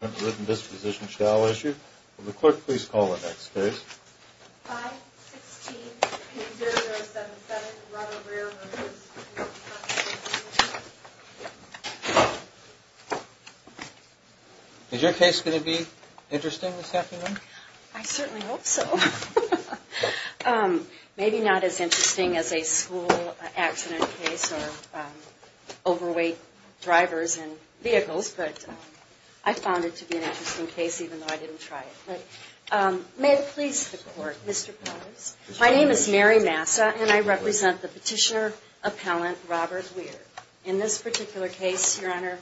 A written disposition shall issue. Will the clerk please call the next case? 5-16-8-0-0-7-7, Robert Weir v. Workers' Comp'n Compensation. Is your case going to be interesting this afternoon? I certainly hope so. Maybe not as interesting as a school accident case or overweight drivers and vehicles, but I found it to be an interesting case even though I didn't try it. May it please the Court, Mr. Powers. My name is Mary Massa, and I represent the petitioner-appellant Robert Weir. In this particular case, Your Honor,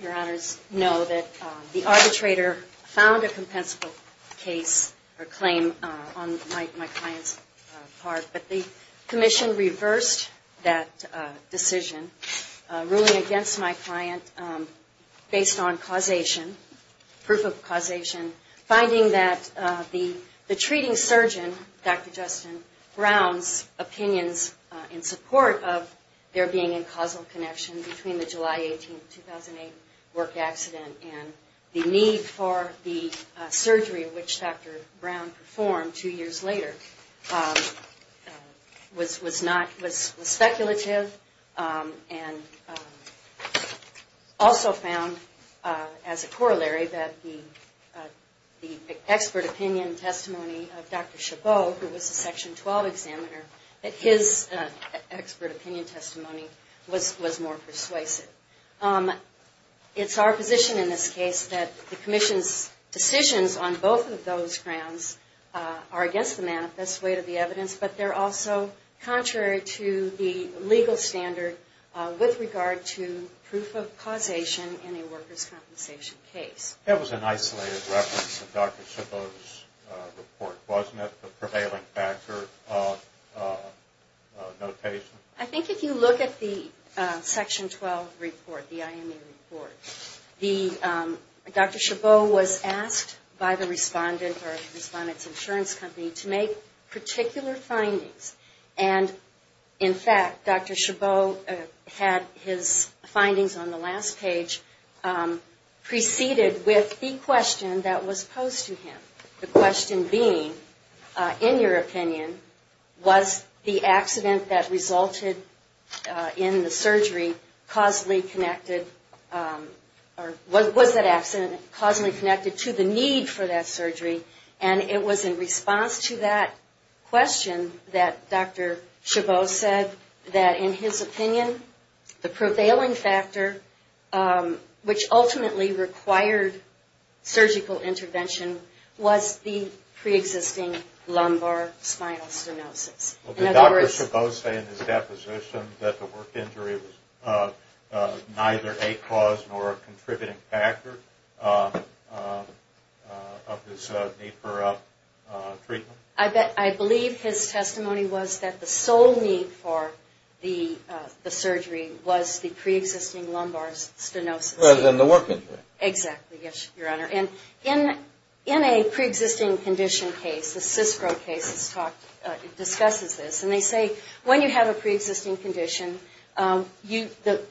Your Honors know that the arbitrator found a compensable case or claim on my client's part, but the Commission reversed that decision, ruling against my client based on causation, proof of causation, finding that the treating surgeon, Dr. Justin Brown's opinions in support of their being in causal connection between the July 18, 2008 work accident and the need for the surgery which Dr. Brown performed two years later was speculative, and also found as a corollary that the expert opinion testimony of Dr. Chabot, who was a Section 12 examiner, that his expert opinion testimony was more persuasive. It's our position in this case that the Commission's decisions on both of those grounds are against the manifest weight of the evidence, but they're also contrary to the legal standard with regard to proof of causation in a workers' compensation case. That was an isolated reference to Dr. Chabot's report, wasn't it, the prevailing factor of notation? I think if you look at the Section 12 report, the IME report, Dr. Chabot was asked by the respondent or the respondent's insurance company to make particular findings. And in fact, Dr. Chabot had his findings on the last page preceded with the question that was posed to him, the question being, in your opinion, was the accident that resulted in the surgery causally connected or was that accident causally connected to the need for that surgery? And it was in response to that question that Dr. Chabot said that, in his opinion, the prevailing factor, which ultimately required surgical intervention, was the preexisting lumbar spinal stenosis. Did Dr. Chabot say in his deposition that the work injury was neither a cause nor a contributing factor of this need for treatment? I believe his testimony was that the sole need for the surgery was the preexisting lumbar stenosis. Rather than the work injury. Exactly, yes, Your Honor. And in a preexisting condition case, the CISPRO case discusses this, and they say when you have a preexisting condition, the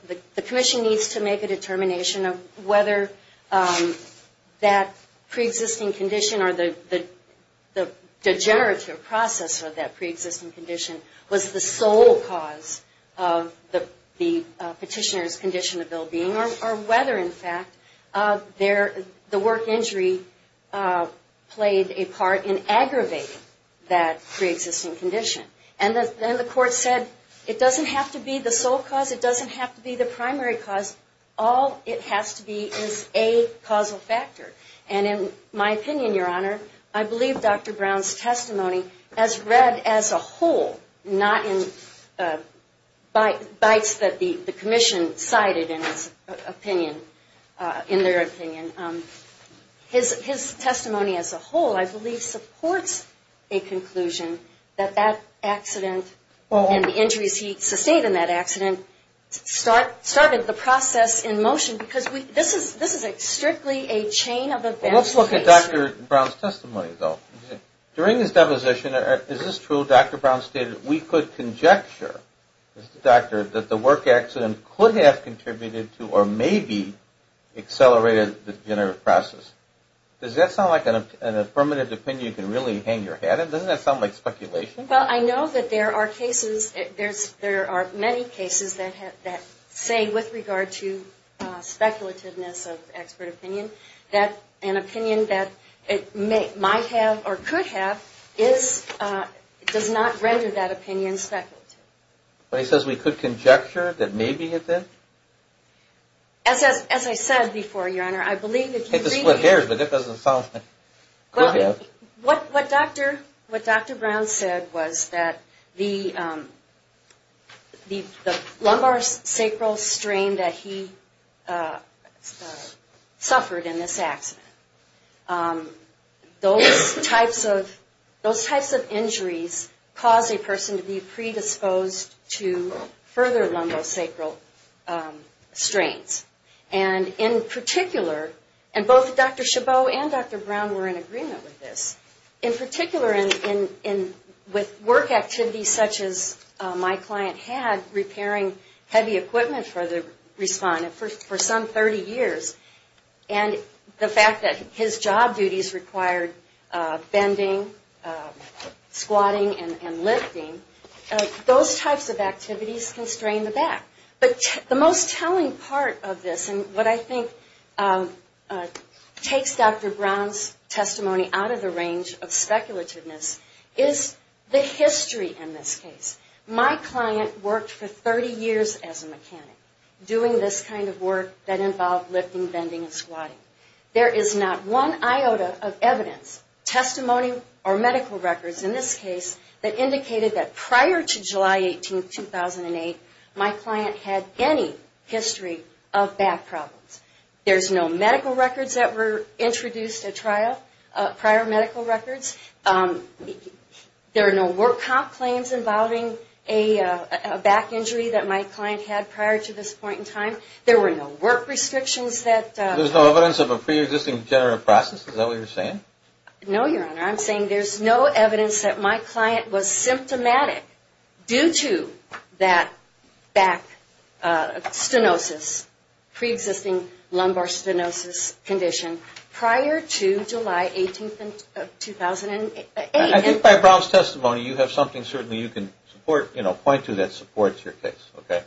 commission needs to make a determination of whether that preexisting condition, or the degenerative process of that preexisting condition, was the sole cause of the petitioner's condition of well-being, or whether, in fact, the work injury played a part in aggravating that preexisting condition. And then the court said, it doesn't have to be the sole cause, it doesn't have to be the primary cause, all it has to be is a causal factor. And in my opinion, Your Honor, I believe Dr. Brown's testimony, as read as a whole, not in bites that the commission cited in their opinion, his testimony as a whole, I believe, supports a conclusion that that accident and the injuries he sustained in that accident started the process in motion, because this is strictly a chain of events. Well, let's look at Dr. Brown's testimony, though. During his deposition, is this true, Dr. Brown stated, we could conjecture, Mr. Doctor, that the work accident could have contributed to or maybe accelerated the degenerative process. Does that sound like an affirmative opinion you can really hang your hat in? Doesn't that sound like speculation? Well, I know that there are cases, there are many cases that say, with regard to speculativeness of expert opinion, that an opinion that it might have or could have does not render that opinion speculative. But he says we could conjecture that maybe it did? As I said before, Your Honor, I believe if you read... It's a split hair, but it doesn't sound like... What Dr. Brown said was that the lumbar sacral strain that he suffered in this accident, those types of injuries cause a person to be predisposed to further lumbar sacral strains. And in particular, and both Dr. Chabot and Dr. Brown were in agreement with this, in particular with work activities such as my client had repairing heavy equipment for the respondent for some 30 years. And the fact that his job duties required bending, squatting, and lifting. Those types of activities constrain the back. But the most telling part of this, and what I think takes Dr. Brown's testimony out of the range of speculativeness, is the history in this case. My client worked for 30 years as a mechanic, doing this kind of work that involved lifting, bending, and squatting. There is not one iota of evidence, testimony, or medical records in this case, that indicated that prior to July 18, 2008, my client had any history of back problems. There's no medical records that were introduced at trial, prior medical records. There are no work comp claims involving a back injury that my client had prior to this point in time. There were no work restrictions that... There's no evidence of a pre-existing degenerative process? Is that what you're saying? No, Your Honor. I'm saying there's no evidence that my client was symptomatic due to that back stenosis, pre-existing lumbar stenosis condition, prior to July 18, 2008. I think by Brown's testimony, you have something certainly you can point to that supports your case, okay?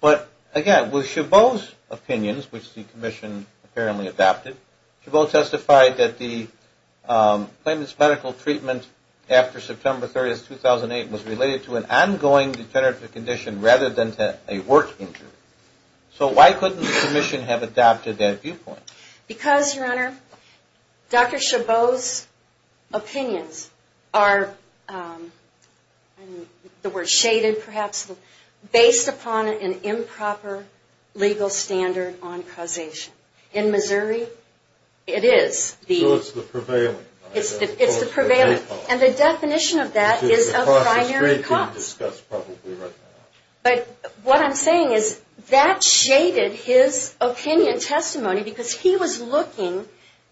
But again, with Chabot's opinions, which the Commission apparently adopted, Chabot testified that the claimant's medical treatment after September 30, 2008, was related to an ongoing degenerative condition rather than to a work injury. So why couldn't the Commission have adopted that viewpoint? Because, Your Honor, Dr. Chabot's opinions are shaded, perhaps, based upon an improper legal standard on causation. In Missouri, it is. So it's the prevailing... It's the prevailing, and the definition of that is of primary cause. But what I'm saying is, that shaded his opinion, testimony, because he was looking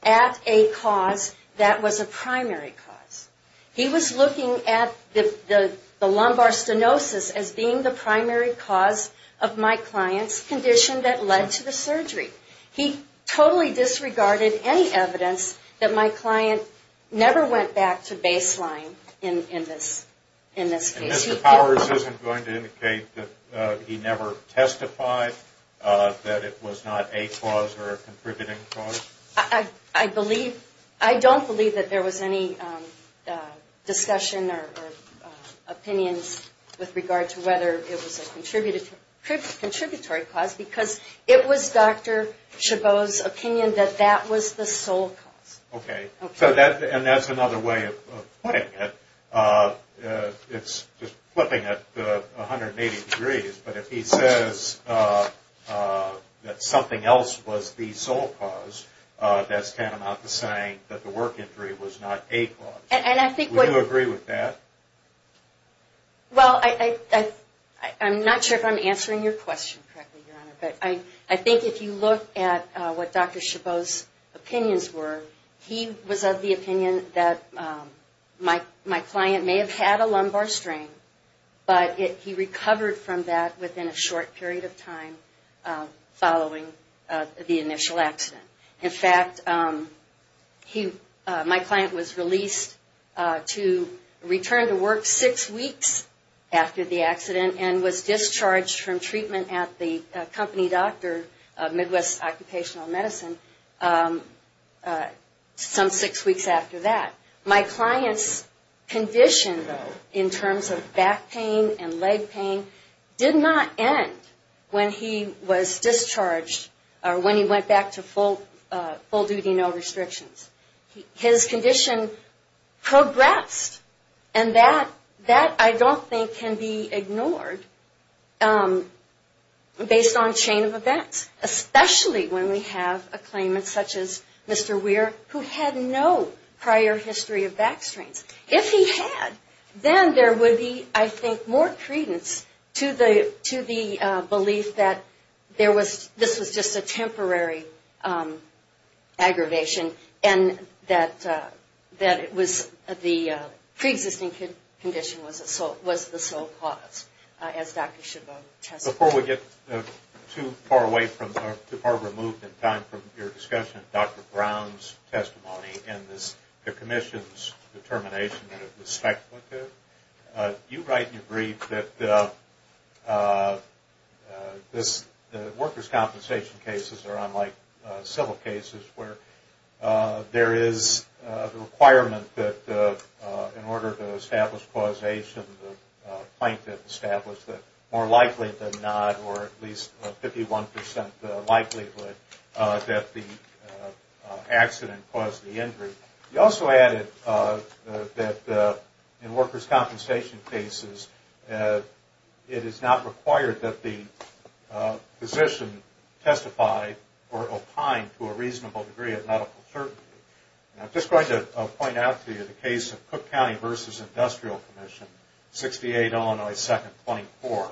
at a cause that was a primary cause. He was looking at the lumbar stenosis as being the primary cause of my client's condition that led to the surgery. He totally disregarded any evidence that my client never went back to baseline in this case. And Mr. Powers isn't going to indicate that he never testified that it was not a cause or a contributing cause? I don't believe that there was any discussion or opinions with regard to whether it was a contributory cause, because it was Dr. Chabot's opinion that that was the sole cause. Okay. So that's another way of putting it. It's just flipping it 180 degrees, but if he says that something else was the sole cause, that's tantamount to saying that the work injury was not a cause. And I think... Would you agree with that? Well, I'm not sure if I'm answering your question correctly, Your Honor, but I think if you look at what Dr. Chabot's opinions were, he was of the opinion that my client may have had a lumbar strain, but he recovered from that within a short period of time following the initial accident. In fact, my client was released to return to work six weeks after the accident and was discharged from treatment at the company doctor, Midwest Occupational Medicine, some six weeks after that. My client's condition, though, in terms of back pain and leg pain, did not end when he was discharged or when he went back to full-duty, no restrictions. His condition progressed, and that, I don't think, can be ignored based on chain of events, especially when we have a claimant such as Mr. Weir, who had no prior history of back strains. If he had, then there would be, I think, more credence to the belief that this was just a temporary aggravation and that the preexisting condition was the sole cause, as Dr. Chabot testified. Before we get too far away from or removed in time from your discussion, Dr. Brown's testimony and the Commission's determination that it was speculative, you write in your brief that workers' compensation cases are unlike civil cases where there is a requirement that in order to establish causation, the plaintiff established that more likely than not, or at least 51 percent likelihood, that the accident caused the injury. You also added that in workers' compensation cases, it is not required that the physician testify or opine to a reasonable degree of medical certainty. I'm just going to point out to you the case of Cook County v. Industrial Commission, 68 Illinois 2nd, 24.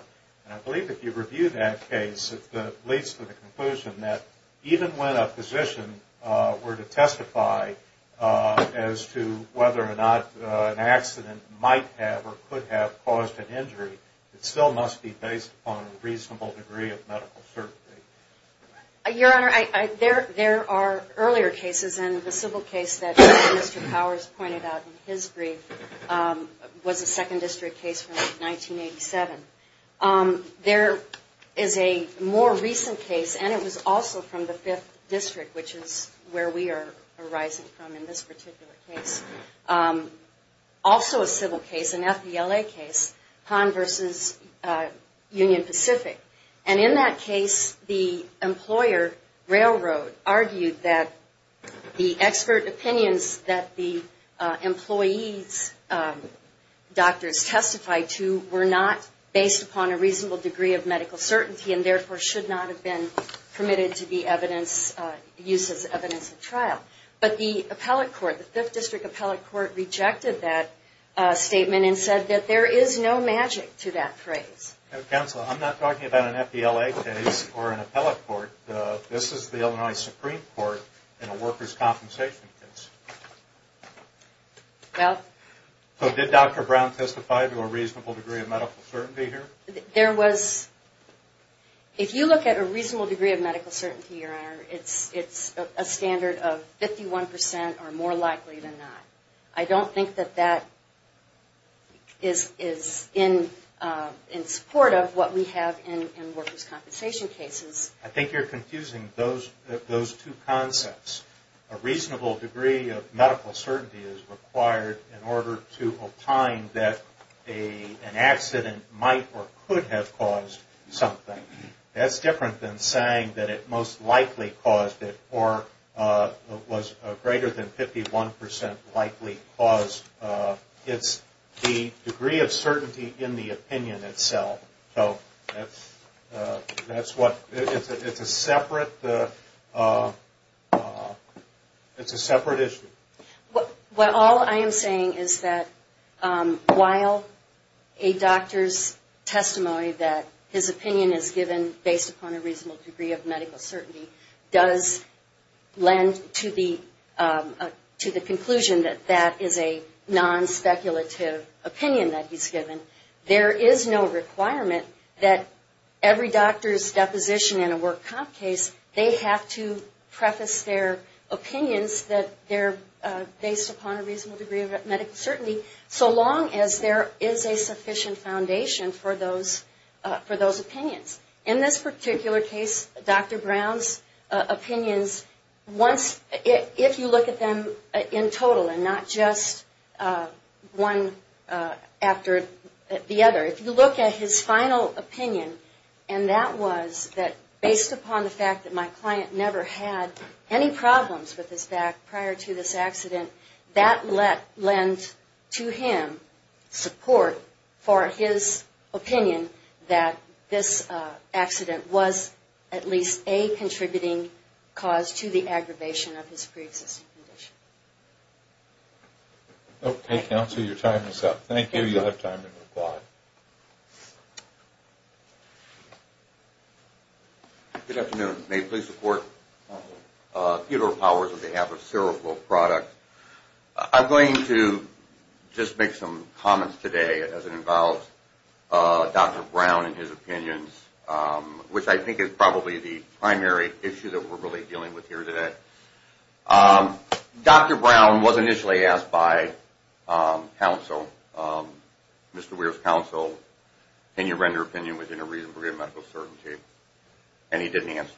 I believe if you review that case, it leads to the conclusion that even when a physician were to testify as to whether or not an accident might have or could have caused an injury, it still must be based upon a reasonable degree of medical certainty. Your Honor, there are earlier cases, and the civil case that Mr. Powers pointed out in his brief was a 2nd District case from 1987. There is a more recent case, and it was also from the 5th District, which is where we are arising from in this particular case, also a civil case, an FVLA case, Hahn v. Union Pacific. And in that case, the employer, Railroad, argued that the expert opinions that the employee's doctors testified to were not based upon a reasonable degree of medical certainty and therefore should not have been permitted to be used as evidence in trial. But the appellate court, the 5th District appellate court, rejected that statement and said that there is no magic to that phrase. Counsel, I'm not talking about an FVLA case or an appellate court. This is the Illinois Supreme Court in a workers' compensation case. So did Dr. Brown testify to a reasonable degree of medical certainty here? If you look at a reasonable degree of medical certainty, Your Honor, it's a standard of 51% or more likely than not. I don't think that that is in support of what we have in workers' compensation cases. I think you're confusing those two concepts. A reasonable degree of medical certainty is required in order to opine that an accident might or could have caused something. That's different than saying that it most likely caused it or was greater than 51% likely caused. It's the degree of certainty in the opinion itself. So it's a separate issue. Well, all I am saying is that while a doctor's testimony that his opinion is given based upon a reasonable degree of medical certainty does lend to the conclusion that that is a non-speculative opinion that he's given, there is no requirement that every doctor's deposition in a work comp case, they have to preface their opinions that they're based upon a reasonable degree of medical certainty so long as there is a sufficient foundation for those opinions. In this particular case, Dr. Brown's opinions, if you look at them in total and not just one after the other, if you look at his final opinion, and that was that based upon the fact that my client never had any problems with his back prior to this accident, that lent to him support for his opinion that this accident was at least a contributing cause to the aggravation of his preexisting condition. Okay, Counselor, your time is up. Thank you. You'll have time to reply. Good afternoon. May it please the Court. Counsel. Theodore Powers on behalf of Seroflow Products. I'm going to just make some comments today as it involves Dr. Brown and his opinions, which I think is probably the primary issue that we're really dealing with here today. Dr. Brown was initially asked by Counsel, Mr. Weir's Counsel, can you render opinion within a reasonable degree of medical certainty? And he didn't answer.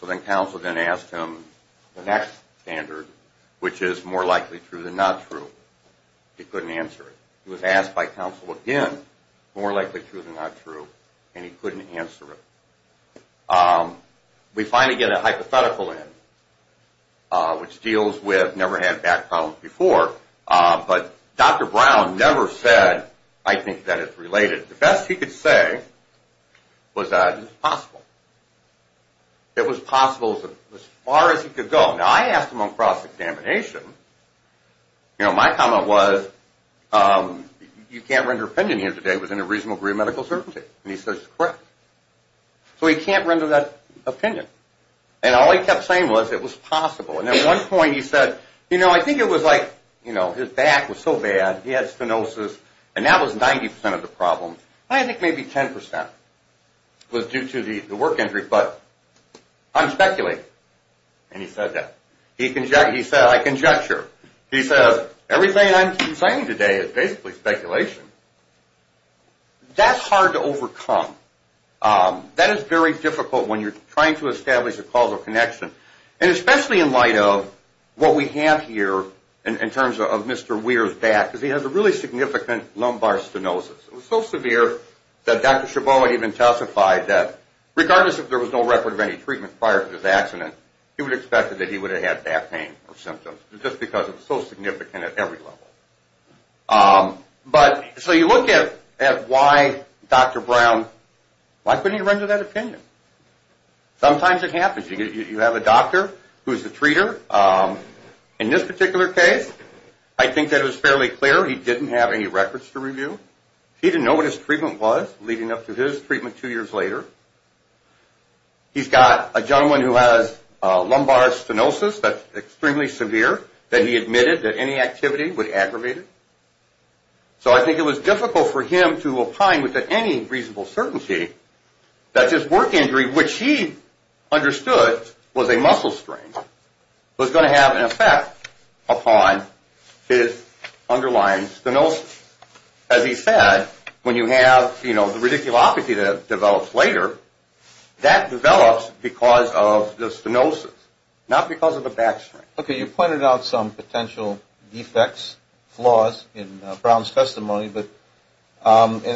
So then Counsel then asked him the next standard, which is more likely true than not true. He couldn't answer it. He was asked by Counsel again, more likely true than not true, and he couldn't answer it. We finally get a hypothetical in, which deals with never had back problems before, but Dr. Brown never said, I think, that it's related. The best he could say was that it was possible. It was possible as far as he could go. Now, I asked him on cross-examination. You know, my comment was you can't render opinion here today within a reasonable degree of medical certainty. And he says, correct. So he can't render that opinion. And all he kept saying was it was possible. And at one point he said, you know, I think it was like, you know, his back was so bad, he had stenosis, and that was 90% of the problem. I think maybe 10% was due to the work injury, but I'm speculating. And he said that. He said, I conjecture. He says, everything I'm saying today is basically speculation. That's hard to overcome. That is very difficult when you're trying to establish a causal connection, and especially in light of what we have here in terms of Mr. Weir's back, because he has a really significant lumbar stenosis. It was so severe that Dr. Chabot even testified that regardless if there was no record of any treatment prior to this accident, he would have expected that he would have had back pain or symptoms just because it was so significant at every level. But so you look at why Dr. Brown, why couldn't he render that opinion? Sometimes it happens. You have a doctor who is a treater. In this particular case, I think that it was fairly clear he didn't have any records to review. He didn't know what his treatment was leading up to his treatment two years later. He's got a gentleman who has lumbar stenosis that's extremely severe, that he admitted that any activity would aggravate it. So I think it was difficult for him to opine with any reasonable certainty that his work injury, which he understood was a muscle strain, was going to have an effect upon his underlying stenosis. As he said, when you have the radiculopathy that develops later, that develops because of the stenosis, not because of the back strain. Okay. You pointed out some potential defects, flaws in Brown's testimony, and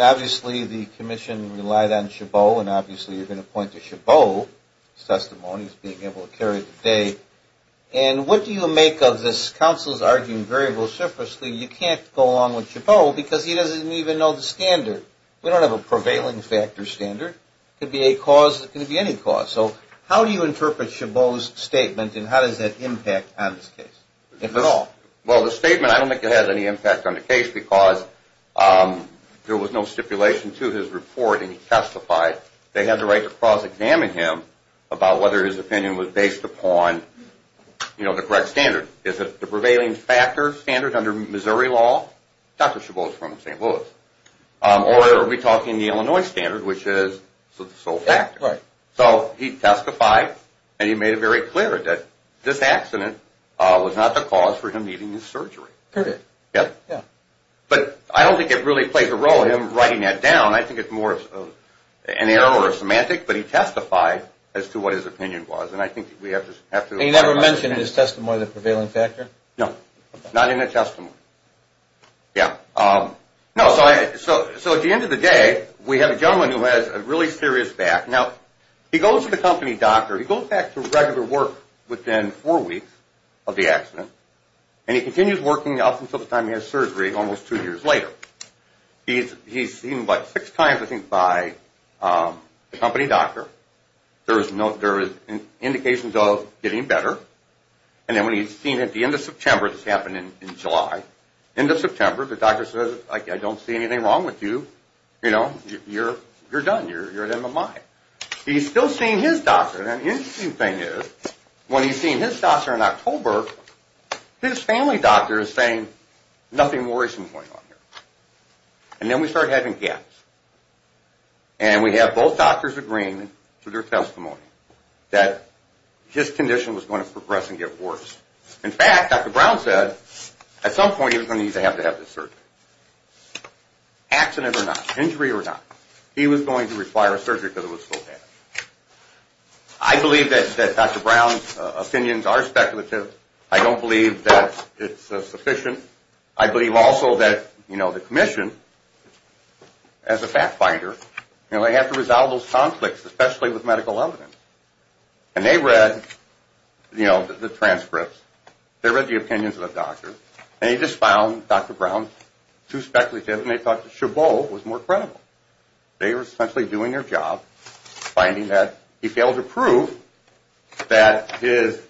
obviously the commission relied on Chabot and obviously you're going to point to Chabot's testimony as being able to carry the day. And what do you make of this counsel's arguing very vociferously, you can't go along with Chabot because he doesn't even know the standard. We don't have a prevailing factor standard. It could be a cause. It could be any cause. So how do you interpret Chabot's statement and how does that impact on this case, if at all? Well, the statement, I don't think it has any impact on the case because there was no stipulation to his report and he testified. They had the right to cross-examine him about whether his opinion was based upon the correct standard. Is it the prevailing factor standard under Missouri law? Dr. Chabot is from St. Louis. Or are we talking the Illinois standard, which is the sole factor? Right. So he testified and he made it very clear that this accident was not the cause for him needing this surgery. Period. Yep. But I don't think it really played the role of him writing that down. I think it's more of an error or a semantic, but he testified as to what his opinion was and I think we have to apply that. He never mentioned in his testimony the prevailing factor? No. Not in the testimony. Yeah. No, so at the end of the day, we have a gentleman who has a really serious back. Now, he goes to the company doctor. He goes back to regular work within four weeks of the accident and he continues working up until the time he has surgery almost two years later. He's seen about six times, I think, by the company doctor. There is indications of getting better. And then when he's seen at the end of September, this happened in July, end of September, the doctor says, I don't see anything wrong with you. You know, you're done. You're at MMI. He's still seeing his doctor. And the interesting thing is when he's seeing his doctor in October, his family doctor is saying nothing worrisome is going on here. And then we start having gaps. And we have both doctors agreeing through their testimony that his condition was going to progress and get worse. In fact, Dr. Brown said at some point he was going to need to have this surgery. Accident or not, injury or not, he was going to require surgery because it was so bad. I believe that Dr. Brown's opinions are speculative. I don't believe that it's sufficient. I believe also that, you know, the commission, as a fact finder, you know, they have to resolve those conflicts, especially with medical evidence. And they read, you know, the transcripts. They read the opinions of the doctors. And they just found Dr. Brown too speculative. And they thought that Chabot was more credible. They were essentially doing their job, finding that he failed to prove that his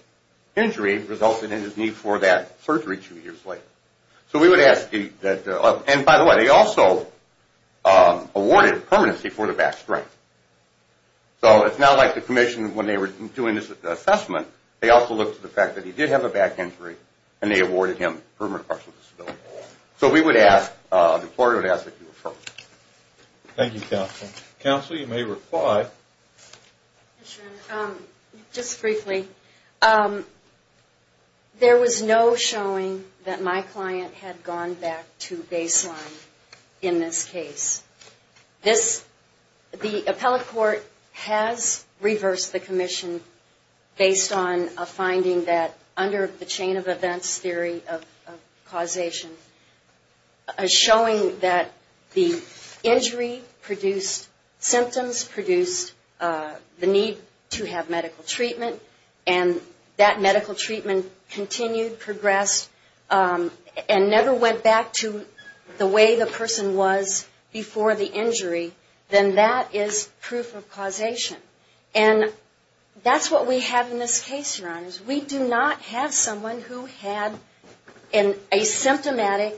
injury resulted in his need for that surgery two years later. So we would ask, and by the way, they also awarded permanency for the back strength. So it's not like the commission, when they were doing this assessment, they also looked at the fact that he did have a back injury, and they awarded him permanent partial disability. So we would ask, the court would ask that you approve. Thank you, counsel. Counsel, you may reply. Just briefly. There was no showing that my client had gone back to baseline in this case. This, the appellate court has reversed the commission based on a finding that, under the chain of events theory of causation, showing that the injury produced symptoms, produced the need to have medical treatment, and never went back to the way the person was before the injury, then that is proof of causation. And that's what we have in this case, Your Honors. We do not have someone who had an asymptomatic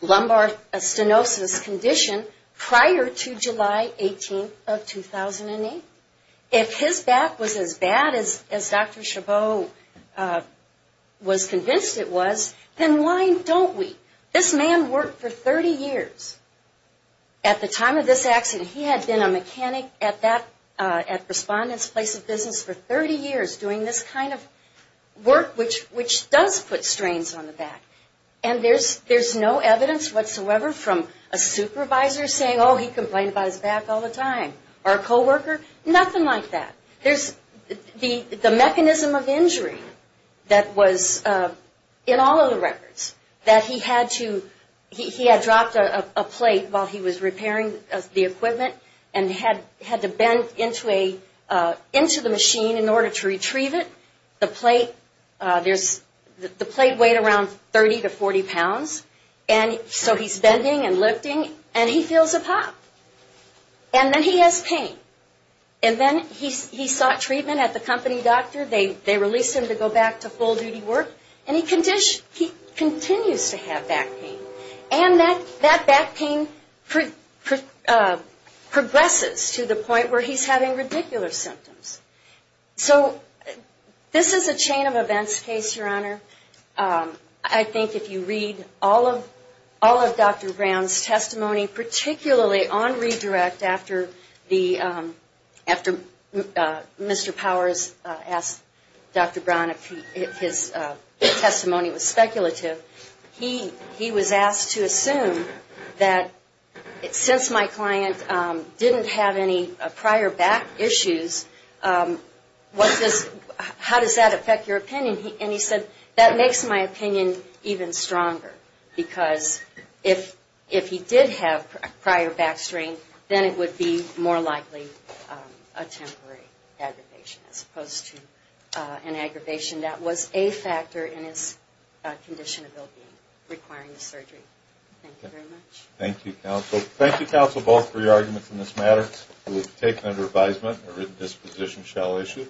lumbar stenosis condition prior to July 18th of 2008. If his back was as bad as Dr. Chabot was convinced it was, then why don't we? This man worked for 30 years. At the time of this accident, he had been a mechanic at Respondent's Place of Business for 30 years, doing this kind of work, which does put strains on the back. And there's no evidence whatsoever from a supervisor saying, oh, he complained about his back all the time, or a coworker, nothing like that. There's the mechanism of injury that was in all of the records, that he had to, he had dropped a plate while he was repairing the equipment, and had to bend into a, into the machine in order to retrieve it. The plate, there's, the plate weighed around 30 to 40 pounds, and so he's bending and lifting, and he feels a pop. And then he has pain. And then he sought treatment at the company doctor. They released him to go back to full-duty work, and he continues to have back pain. And that back pain progresses to the point where he's having ridiculous symptoms. I think if you read all of Dr. Brown's testimony, particularly on redirect after the, after Mr. Powers asked Dr. Brown if his testimony was speculative, he was asked to assume that since my client didn't have any prior back issues, what does, how does that affect your opinion? And he said, that makes my opinion even stronger, because if he did have prior back strain, then it would be more likely a temporary aggravation as opposed to an aggravation that was a factor in his condition of well-being requiring the surgery. Thank you very much. Thank you, counsel. Thank you, counsel, both for your arguments in this matter. It was taken under advisement and a written disposition shall issue.